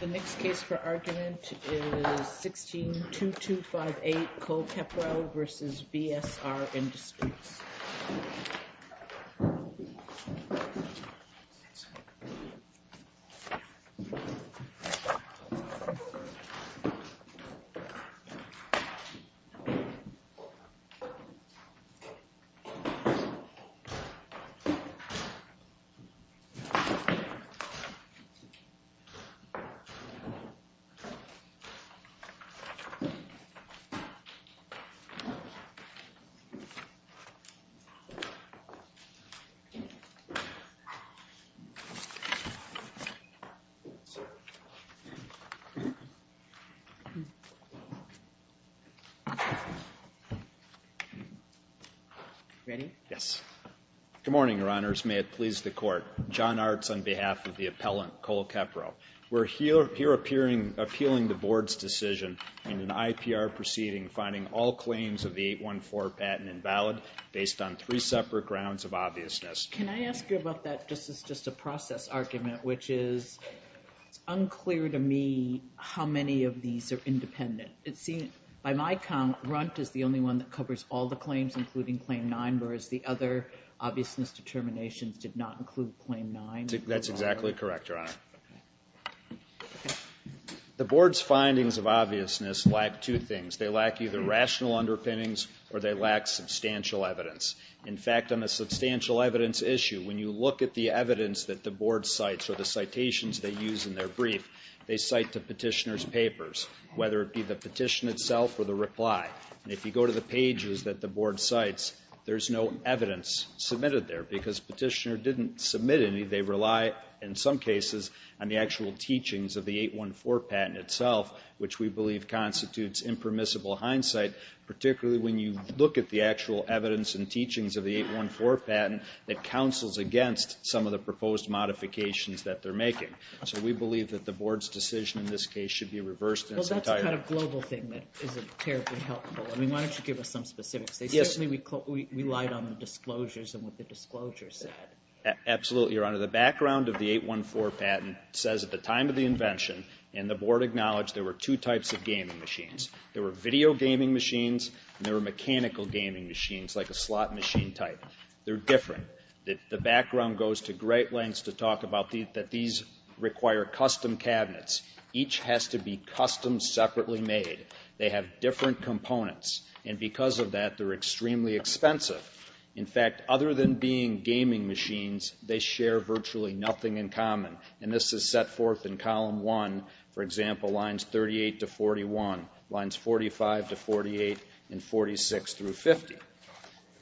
The next case for argument is 16-2258 Cole-Kepro v. VSR Industries. Good morning, Your Honors. May it please the Court. John Artz on behalf of the appellant, Cole-Kepro. We're here appealing the Board's decision in an IPR proceeding finding all claims of the 814 patent invalid based on three separate grounds of obviousness. Can I ask you about that? This is just a process argument, which is unclear to me how many of these are independent. By my count, Runt is the only one that covers all the claims, including Claim 9, whereas the other obviousness determinations did not include Claim 9. That's exactly correct, Your Honor. The Board's findings of obviousness lack two things. They lack either rational underpinnings or they lack substantial evidence. In fact, on the substantial evidence issue, when you look at the evidence that the Board cites or the citations they use in their brief, they cite the petitioner's papers, whether it be the petition itself or the reply. If you go to the pages that the Board cites, there's no evidence submitted there, because petitioner didn't submit any. They rely, in some cases, on the actual teachings of the 814 patent itself, which we believe constitutes impermissible hindsight, particularly when you look at the actual evidence and teachings of the 814 patent that counsels against some of the proposed modifications that they're making. So we believe that the Board's decision in this case should be reversed in its entirety. There's some kind of global thing that isn't terribly helpful. I mean, why don't you give us some specifics? Yes. They certainly relied on the disclosures and what the disclosures said. Absolutely, Your Honor. The background of the 814 patent says at the time of the invention, and the Board acknowledged there were two types of gaming machines. There were video gaming machines and there were mechanical gaming machines, like a slot machine type. They're different. The background goes to great lengths to talk about that these require custom cabinets. Each has to be custom-separated. Each has to be custom-separated. Each has to be custom-separated. They have different components, and because of that, they're extremely expensive. In fact, other than being gaming machines, they share virtually nothing in common. And this is set forth in Column 1, for example, Lines 38 to 41, Lines 45 to 48, and 46 through 50.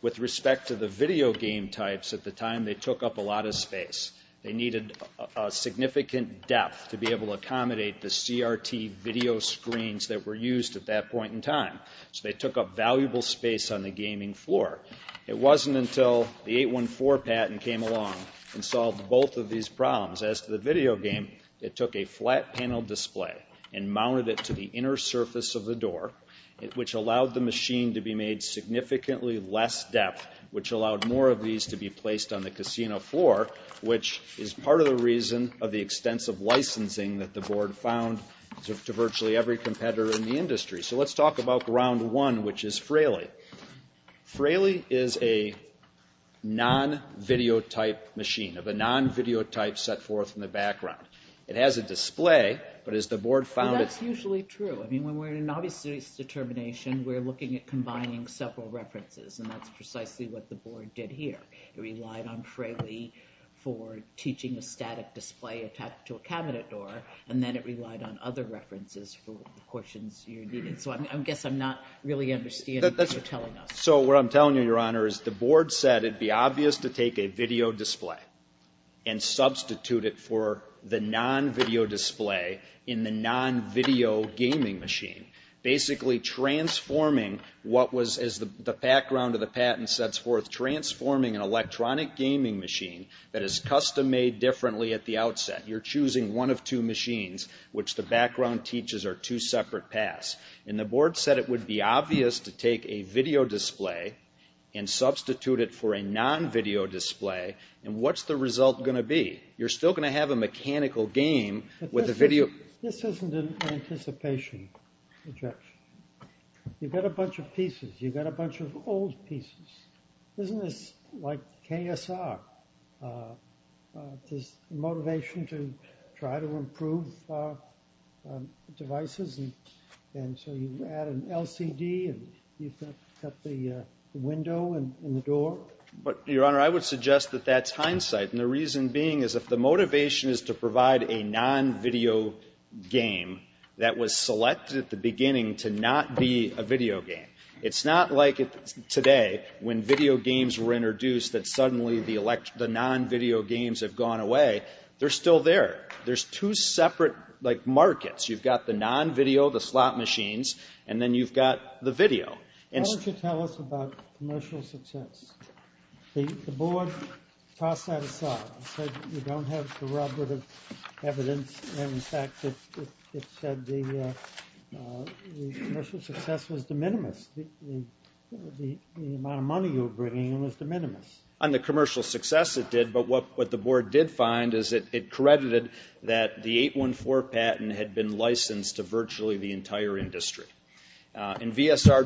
With respect to the video game types, at the time, they took up a lot of space. They needed a significant depth to be able to accommodate the CRT video screens that were used at that point in time, so they took up valuable space on the gaming floor. It wasn't until the 814 patent came along and solved both of these problems. As to the video game, it took a flat panel display and mounted it to the inner surface of the door, which allowed the machine to be made significantly less depth, which allowed more of these to be placed on the casino floor, which is part of the reason of the extensive licensing that the board found to virtually every competitor in the industry. So let's talk about Round 1, which is Fraley. Fraley is a non-videotype machine, of a non-videotype set forth in the background. It has a display, but as the board found it... Well, that's usually true. I mean, when we're in an obvious determination, we're looking at combining several references, and that's precisely what the board did here. It relied on Fraley for teaching a static display attached to a cabinet door, and then it relied on other references for the portions you needed. So I guess I'm not really understanding what you're telling us. So what I'm telling you, Your Honor, is the board said it'd be obvious to take a video display and substitute it for the non-video display in the non-video gaming machine, basically transforming what was, as the background of the patent sets forth, transforming an electronic gaming machine that is custom-made differently at the outset. You're choosing one of two machines, which the background teaches are two separate paths. And the board said it would be obvious to take a video display and substitute it for a non-video display, and what's the result going to be? You're still going to have a mechanical game with a video... This isn't an anticipation objection. You've got a bunch of pieces. You've got a bunch of old pieces. Isn't this like KSR, this motivation to try to improve devices, and so you add an LCD and you've got the window and the door? But Your Honor, I would suggest that that's hindsight, and the reason being is if the non-video game that was selected at the beginning to not be a video game, it's not like today when video games were introduced that suddenly the non-video games have gone away. They're still there. There's two separate markets. You've got the non-video, the slot machines, and then you've got the video. Why don't you tell us about commercial success? The board tossed that aside and said you don't have corroborative evidence, and in fact, it said the commercial success was de minimis. The amount of money you were bringing was de minimis. On the commercial success, it did, but what the board did find is it credited that the 814 patent had been licensed to virtually the entire industry, and VSR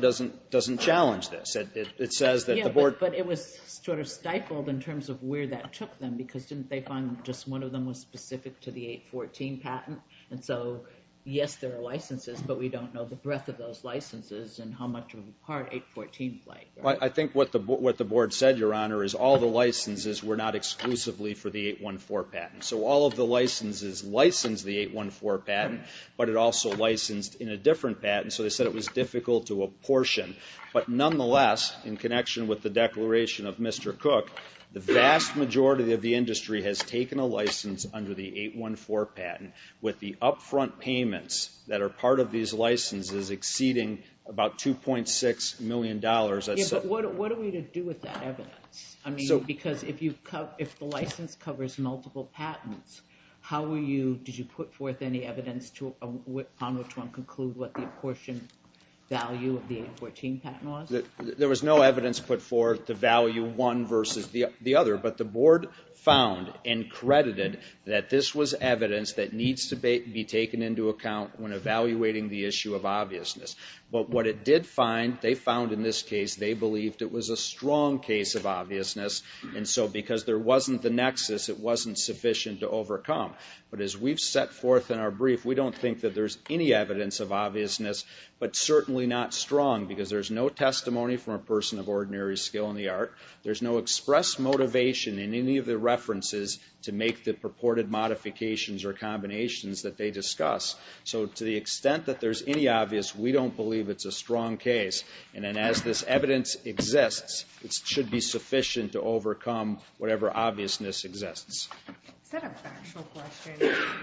doesn't challenge this. Yeah, but it was sort of stifled in terms of where that took them because didn't they find just one of them was specific to the 814 patent, and so yes, there are licenses, but we don't know the breadth of those licenses and how much of a part 814 played. I think what the board said, Your Honor, is all the licenses were not exclusively for the 814 patent, so all of the licenses licensed the 814 patent, but it also licensed in a proportion, but nonetheless, in connection with the declaration of Mr. Cook, the vast majority of the industry has taken a license under the 814 patent with the upfront payments that are part of these licenses exceeding about $2.6 million. Yeah, but what are we to do with that evidence? I mean, because if the license covers multiple patents, how will you, did you put forth any of the 814 patent laws? There was no evidence put forth to value one versus the other, but the board found and credited that this was evidence that needs to be taken into account when evaluating the issue of obviousness, but what it did find, they found in this case, they believed it was a strong case of obviousness, and so because there wasn't the nexus, it wasn't sufficient to overcome, but as we've set forth in our brief, we don't think that there's any evidence of obviousness, but certainly not strong, because there's no testimony from a person of ordinary skill in the art, there's no express motivation in any of the references to make the purported modifications or combinations that they discuss, so to the extent that there's any obvious, we don't believe it's a strong case, and then as this evidence exists, it should be sufficient to overcome whatever obviousness exists. Is that a factual question?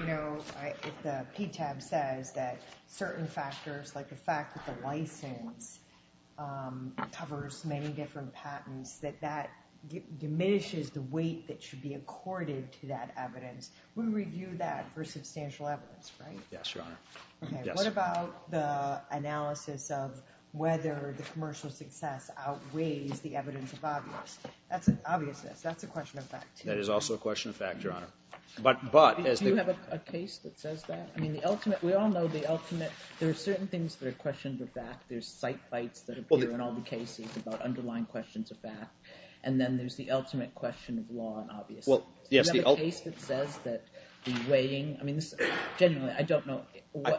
You know, if the PTAB says that certain factors, like the fact that the license covers many different patents, that that diminishes the weight that should be accorded to that evidence, we review that for substantial evidence, right? Yes, Your Honor. Okay, what about the analysis of whether the commercial success outweighs the evidence of obviousness? That's an obviousness, that's a question of fact, too. That is also a question of fact, Your Honor. Do you have a case that says that? I mean, the ultimate, we all know the ultimate, there are certain things that are questioned are fact, there's site fights that appear in all the cases about underlying questions of fact, and then there's the ultimate question of law and obviousness. Do you have a case that says that the weighing, I mean, genuinely, I don't know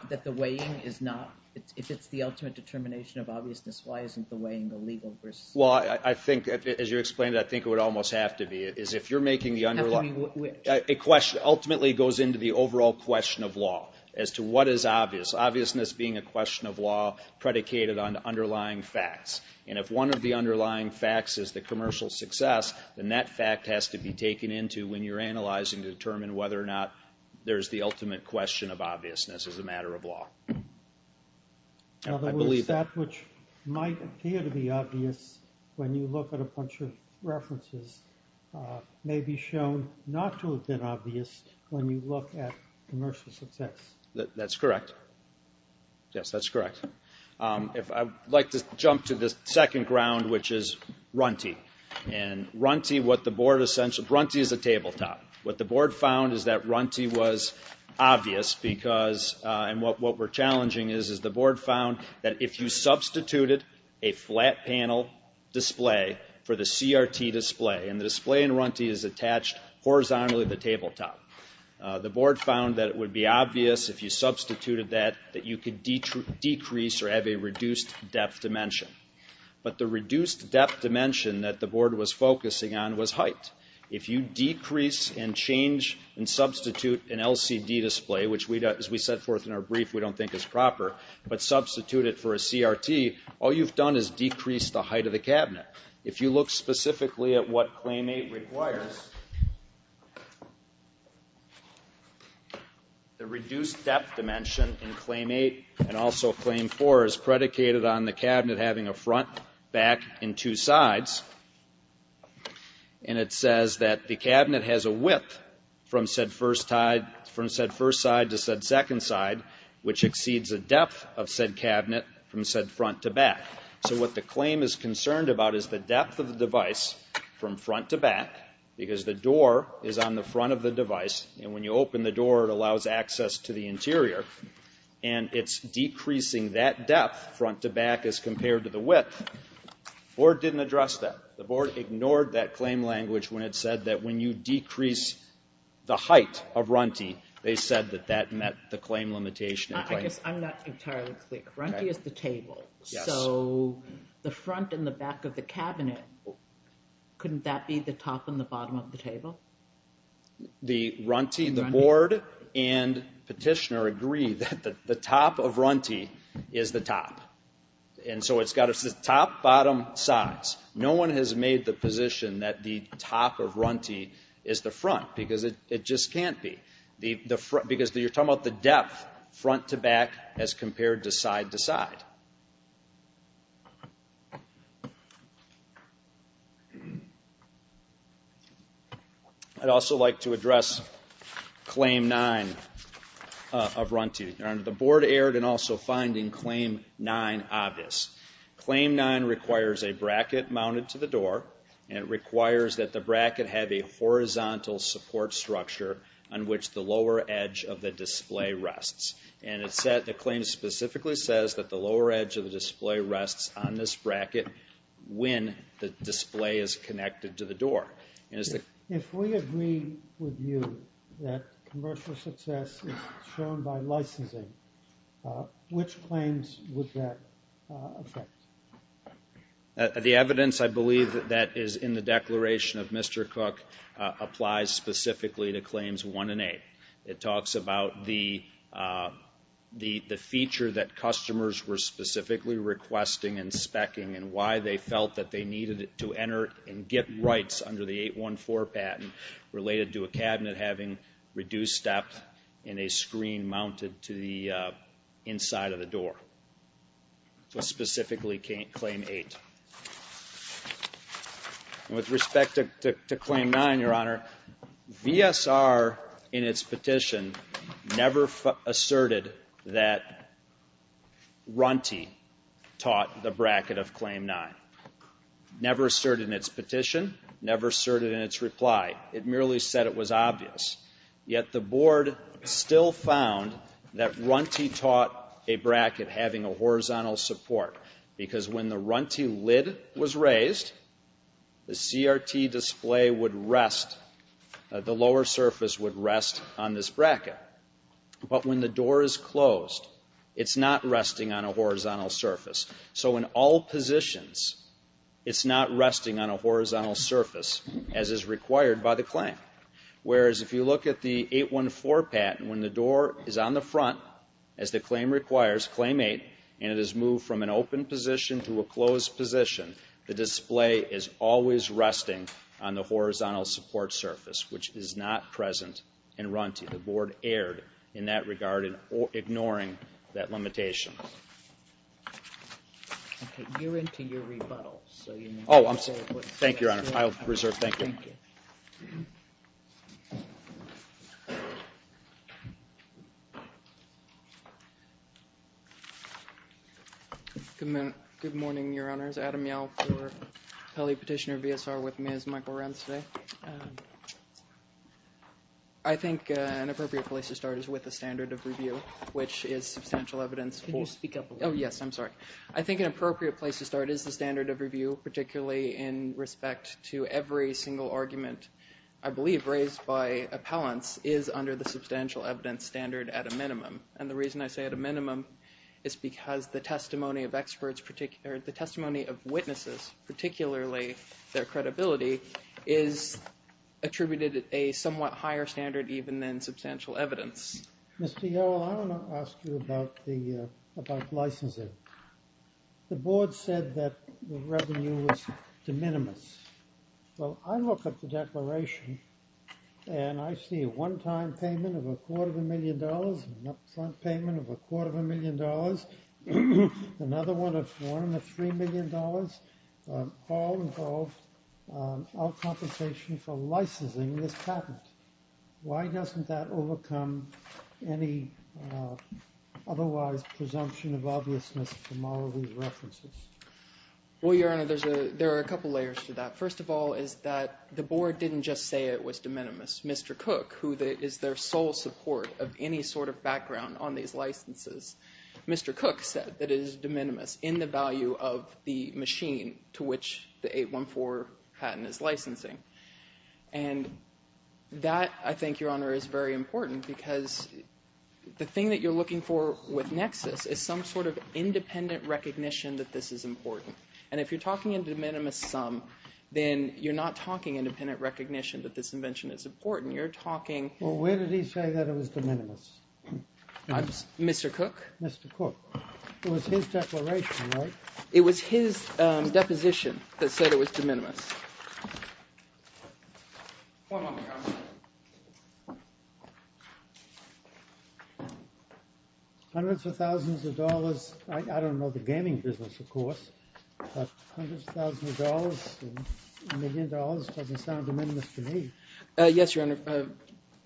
that the weighing is not, if it's the ultimate determination of obviousness, why isn't the weighing illegal versus? Well, I think, as you explained it, I think it would almost have to be, is if you're making the underlying, a question ultimately goes into the overall question of law, as to what is obvious, obviousness being a question of law predicated on underlying facts, and if one of the underlying facts is the commercial success, then that fact has to be taken into when you're analyzing to determine whether or not there's the ultimate question of obviousness as a matter of law. I believe that. In other words, that which might appear to be obvious when you look at a bunch of references may be shown not to have been obvious when you look at commercial success. That's correct. Yes, that's correct. If I would like to jump to the second ground, which is Runty, and Runty, what the board essentially, Runty is a tabletop. What the board found is that Runty was obvious because, and what we're challenging is, is the board found that if you substituted a flat panel display for the CRT display, and the display in Runty is attached horizontally to the tabletop, the board found that it would be obvious if you substituted that, that you could decrease or have a reduced depth dimension. But the reduced depth dimension that the board was focusing on was height. If you decrease and change and substitute an LCD display, which as we set forth in our brief, we don't think is proper, but substitute it for a CRT, all you've done is decrease the height of the cabinet. If you look specifically at what Claim 8 requires, the reduced depth dimension in Claim 8 and also Claim 4 is predicated on the cabinet having a front, back, and two sides, and it says that the cabinet has a width from said first side to said second side, which exceeds a depth of said cabinet from said front to back. So what the claim is concerned about is the depth of the device from front to back, because the door is on the front of the device, and when you open the door, it allows access to the interior, and it's decreasing that depth front to back as compared to the width. The board didn't address that. The board ignored that claim language when it said that when you decrease the height of Runty, they said that that met the claim limitation. I guess I'm not entirely clear. Runty is the table, so the front and the back of the cabinet, couldn't that be the top and the bottom of the table? The Runty, the board and petitioner agree that the top of Runty is the top, and so it's got the top, bottom, sides. No one has made the position that the top of Runty is the front, because it just can't be, because you're talking about the depth front to back as compared to side to side. I'd also like to address Claim 9 of Runty. The board erred in also finding Claim 9 obvious. Claim 9 requires a bracket mounted to the door, and it requires that the bracket have a horizontal support structure on which the lower edge of the display rests, and the claim specifically says that the lower edge of the display rests on this bracket when the display is connected to the door. If we agree with you that commercial success is shown by licensing, which claims would that affect? The evidence I believe that is in the declaration of Mr. Cook applies specifically to Claims 1 and 8. It talks about the feature that customers were specifically requesting and speccing and why they felt that they needed to enter and get rights under the 814 patent related to a cabinet having reduced depth and a screen mounted to the inside of the door. So specifically Claim 8. With respect to Claim 9, Your Honor, VSR in its petition never asserted that Runty taught the bracket of Claim 9. Never asserted in its petition, never asserted in its reply. It merely said it was obvious. Yet the board still found that Runty taught a bracket having a horizontal support because when the Runty lid was raised, the CRT display would rest, the lower surface would rest on this bracket. But when the door is closed, it's not resting on a horizontal surface. So in all positions, it's not resting on a horizontal surface as is required by the claim. Whereas if you look at the 814 patent, when the door is on the front, as the claim requires, Claim 8, and it is moved from an open position to a closed position, the display is always resting on the horizontal support surface, which is not present in Runty. The board erred in that regard in ignoring that limitation. Okay, you're into your rebuttals. Oh, thank you, Your Honor. I'll reserve thank you. Thank you. Good morning, Your Honors. Adam Yow for Pele Petitioner VSR with Ms. Michael Runtsvay. I think an appropriate place to start is with the standard of review, which is substantial evidence. Can you speak up a little bit? Oh, yes, I'm sorry. I think an appropriate place to start is the standard of review, particularly in respect to every single argument I believe raised by appellants is under the substantial evidence standard at a minimum. And the reason I say at a minimum is because the testimony of witnesses, particularly their attributed a somewhat higher standard even than substantial evidence. Mr. Yow, I want to ask you about licensing. The board said that the revenue was de minimis. Well, I look at the declaration, and I see a one-time payment of a quarter of a million dollars, an upfront payment of a quarter of a million dollars, another one of three million dollars, all involved, all compensation for licensing this patent. Why doesn't that overcome any otherwise presumption of obviousness from all of these references? Well, Your Honor, there are a couple layers to that. First of all is that the board didn't just say it was de minimis. Mr. Cook, who is their sole support of any sort of background on these licenses, Mr. Cook said it was de minimis. And that's the value of the machine to which the 814 patent is licensing. And that, I think, Your Honor, is very important because the thing that you're looking for with nexus is some sort of independent recognition that this is important. And if you're talking in de minimis sum, then you're not talking independent recognition that this invention is important. You're talking — Well, where did he say that it was de minimis? Mr. Cook? Mr. Cook. It was his declaration, right? It was his deposition that said it was de minimis. One moment, Your Honor. Hundreds of thousands of dollars. I don't know the gaming business, of course, but hundreds of thousands of dollars, a million dollars doesn't sound de minimis to me. Yes, Your Honor.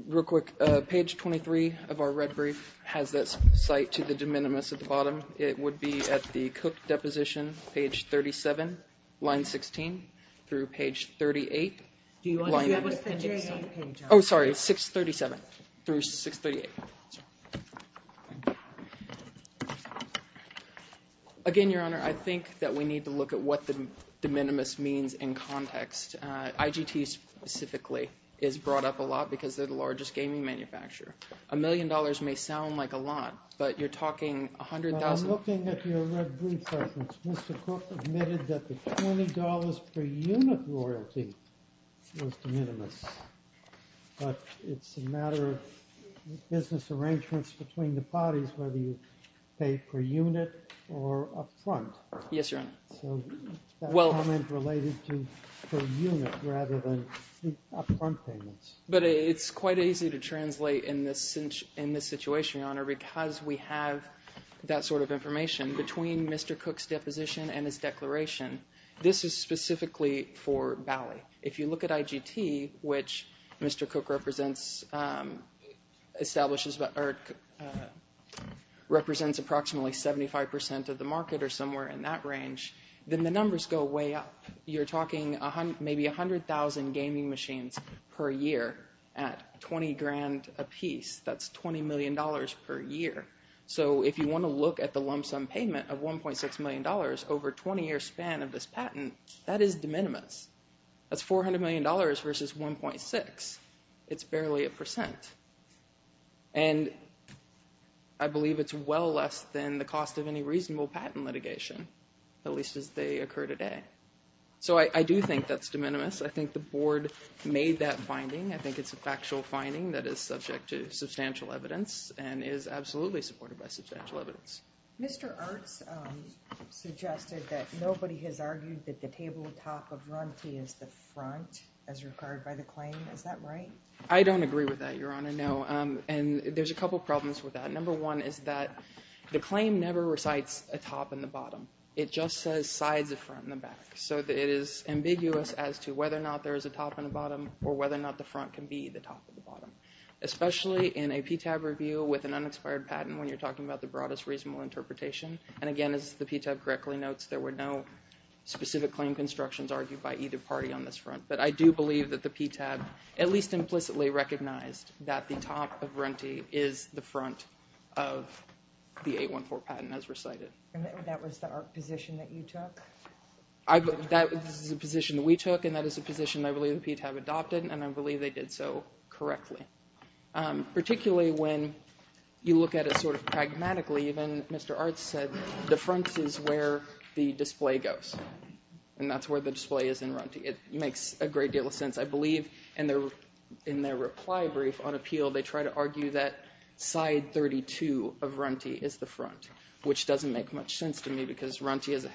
Real quick. Page 23 of our red brief has that cite to the de minimis at the bottom. It would be at the Cook deposition, page 37, line 16 through page 38. Do you want to do it with the J.A. page? Oh, sorry. It's 637 through 638. Again, Your Honor, I think that we need to look at what the de minimis means in context. IGT specifically is brought up a lot because they're the largest gaming manufacturer. A million dollars may sound like a lot, but you're talking a hundred thousand. I'm looking at your red brief, Mr. Cook, admitted that the $20 per unit royalty was de minimis. But it's a matter of business arrangements between the parties, whether you pay per unit or up front. Yes, Your Honor. That comment related to per unit rather than up front payments. But it's quite easy to translate in this situation, Your Honor, because we have that sort of information between Mr. Cook's deposition and his declaration. This is specifically for Bally. If you look at IGT, which Mr. Cook represents approximately 75% of the market or somewhere in that range, then the numbers go way up. You're talking maybe 100,000 gaming machines per year at 20 grand apiece. That's $20 million per year. So if you want to look at the lump sum payment of $1.6 million over a 20-year span of this patent, that is de minimis. That's $400 million versus 1.6. It's barely a percent. And I believe it's well less than the cost of any reasonable patent litigation, at least as they occur today. So I do think that's de minimis. I think the Board made that finding. I think it's a factual finding that is subject to substantial evidence and is absolutely supported by substantial evidence. Mr. Arts suggested that nobody has argued that the table top of Runty is the front as required by the claim. Is that right? I don't agree with that, Your Honor, no. And there's a couple problems with that. Number one is that the claim never recites a top and a bottom. It just says sides of front and the back. So it is ambiguous as to whether or not there is a top and a bottom or whether or not the front can be the top or the bottom, especially in a PTAB review with an unexpired patent when you're talking about the broadest reasonable interpretation. And again, as the PTAB correctly notes, there were no specific claim constructions argued by either party on this front. But I do believe that the PTAB at least implicitly recognized that the top of Runty is the front of the 814 patent as recited. And that was the position that you took? That was the position that we took, and that is a position I believe the PTAB adopted, and I believe they did so correctly. Particularly when you look at it sort of pragmatically, even Mr. Art said the front is where the display goes, and that's where the display is in Runty. It makes a great deal of sense, I believe. In their reply brief on appeal, they try to argue that side 32 of Runty is the front, which doesn't make much sense to me because Runty is a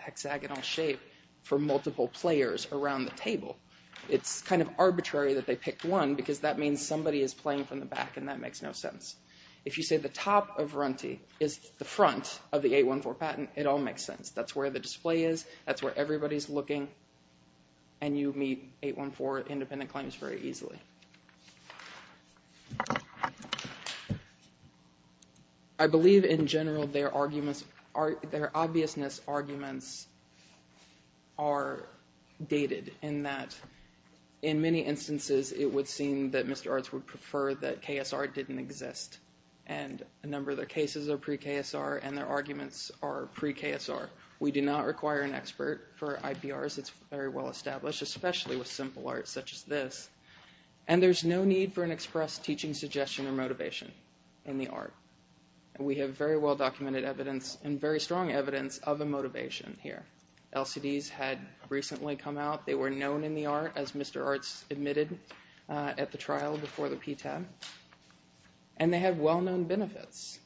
hexagonal shape for multiple players around the table. It's kind of arbitrary that they picked one because that means somebody is playing from the back, and that makes no sense. If you say the top of Runty is the front of the 814 patent, it all makes sense. That's where the display is. That's where everybody's looking, and you meet 814 independent claims very easily. I believe in general their obviousness arguments are dated in that in many instances, it would seem that Mr. Arts would prefer that KSR didn't exist, and a number of their cases are pre-KSR, and their arguments are pre-KSR. We do not require an expert for IPRs. It's very well established, especially with simple art such as this, and there's no need for an express teaching suggestion or motivation in the art. We have very well-documented evidence and very strong evidence of a motivation here. LCDs had recently come out. They were known in the art as Mr. Arts admitted at the trial before the PTAB, and they have well-known benefits.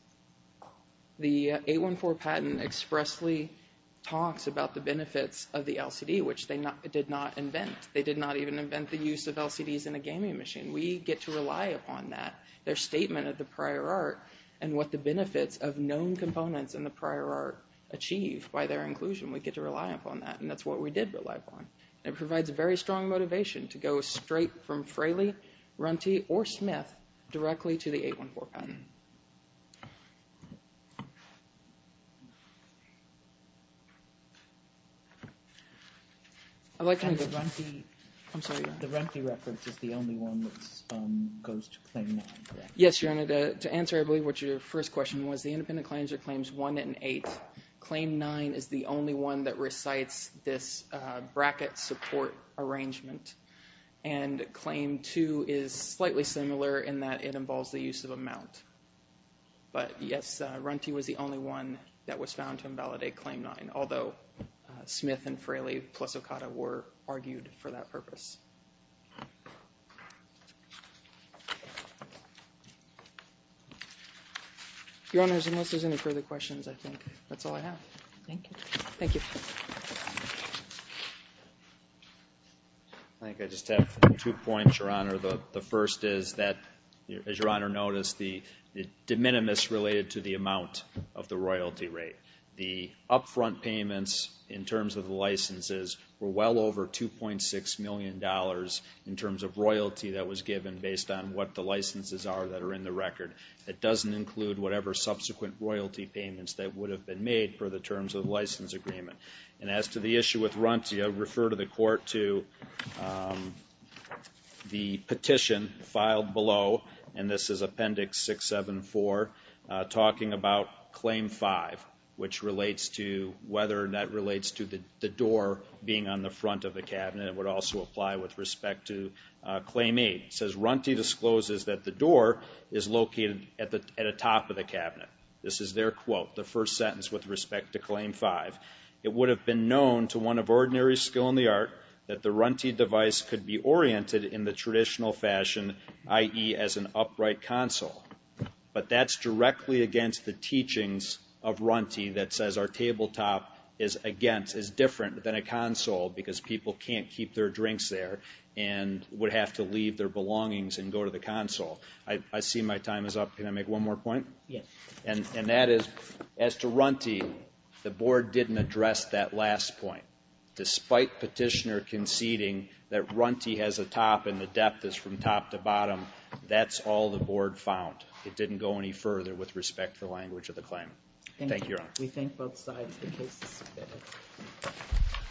The 814 patent expressly talks about the benefits of the LCD, which they did not invent. They did not even invent the use of LCDs in a gaming machine. We get to rely upon that, their statement of the prior art and what the benefits of known components in the prior art achieve by their inclusion. We get to rely upon that, and that's what we did rely upon. It provides a very strong motivation to go straight from Fraley, Runty, or Smith directly to the 814 patent. I'd like to move to Runty. I'm sorry. The Runty reference is the only one that goes to Claim 9, correct? Yes, Your Honor. To answer, I believe, what your first question was, the independent claims are Claims 1 and 8. Claim 9 is the only one that recites this bracket support arrangement, and Claim 2 is slightly similar in that it involves the use of a mount. But yes, Runty was the only one that was found to invalidate Claim 9, although Smith and Fraley plus Okada were argued for that purpose. Your Honors, unless there's any further questions, I think that's all I have. Thank you. Thank you. I think I just have two points, Your Honor. The first is that, as Your Honor noticed, the de minimis related to the amount of the royalty rate. The upfront payments in terms of the licenses were well over $2.6 million. In terms of royalty that was given based on what the licenses are that are in the record. It doesn't include whatever subsequent royalty payments that would have been made for the terms of the license agreement. And as to the issue with Runty, I refer to the court to the petition filed below, and this is Appendix 674, talking about Claim 5, which relates to whether that relates to the door being on the front of the cabinet. It would also apply with respect to Claim 8. It says, Runty discloses that the door is located at the top of the cabinet. This is their quote, the first sentence with respect to Claim 5. It would have been known to one of ordinary skill in the art that the Runty device could be oriented in the traditional fashion, i.e., as an upright console. But that's directly against the teachings of Runty that says our tabletop is against, than a console because people can't keep their drinks there and would have to leave their belongings and go to the console. I see my time is up. Can I make one more point? Yes. And that is, as to Runty, the board didn't address that last point. Despite petitioner conceding that Runty has a top and the depth is from top to bottom, that's all the board found. It didn't go any further with respect to the language of the claimant. Thank you, Your Honor. We thank both sides. The case is submitted.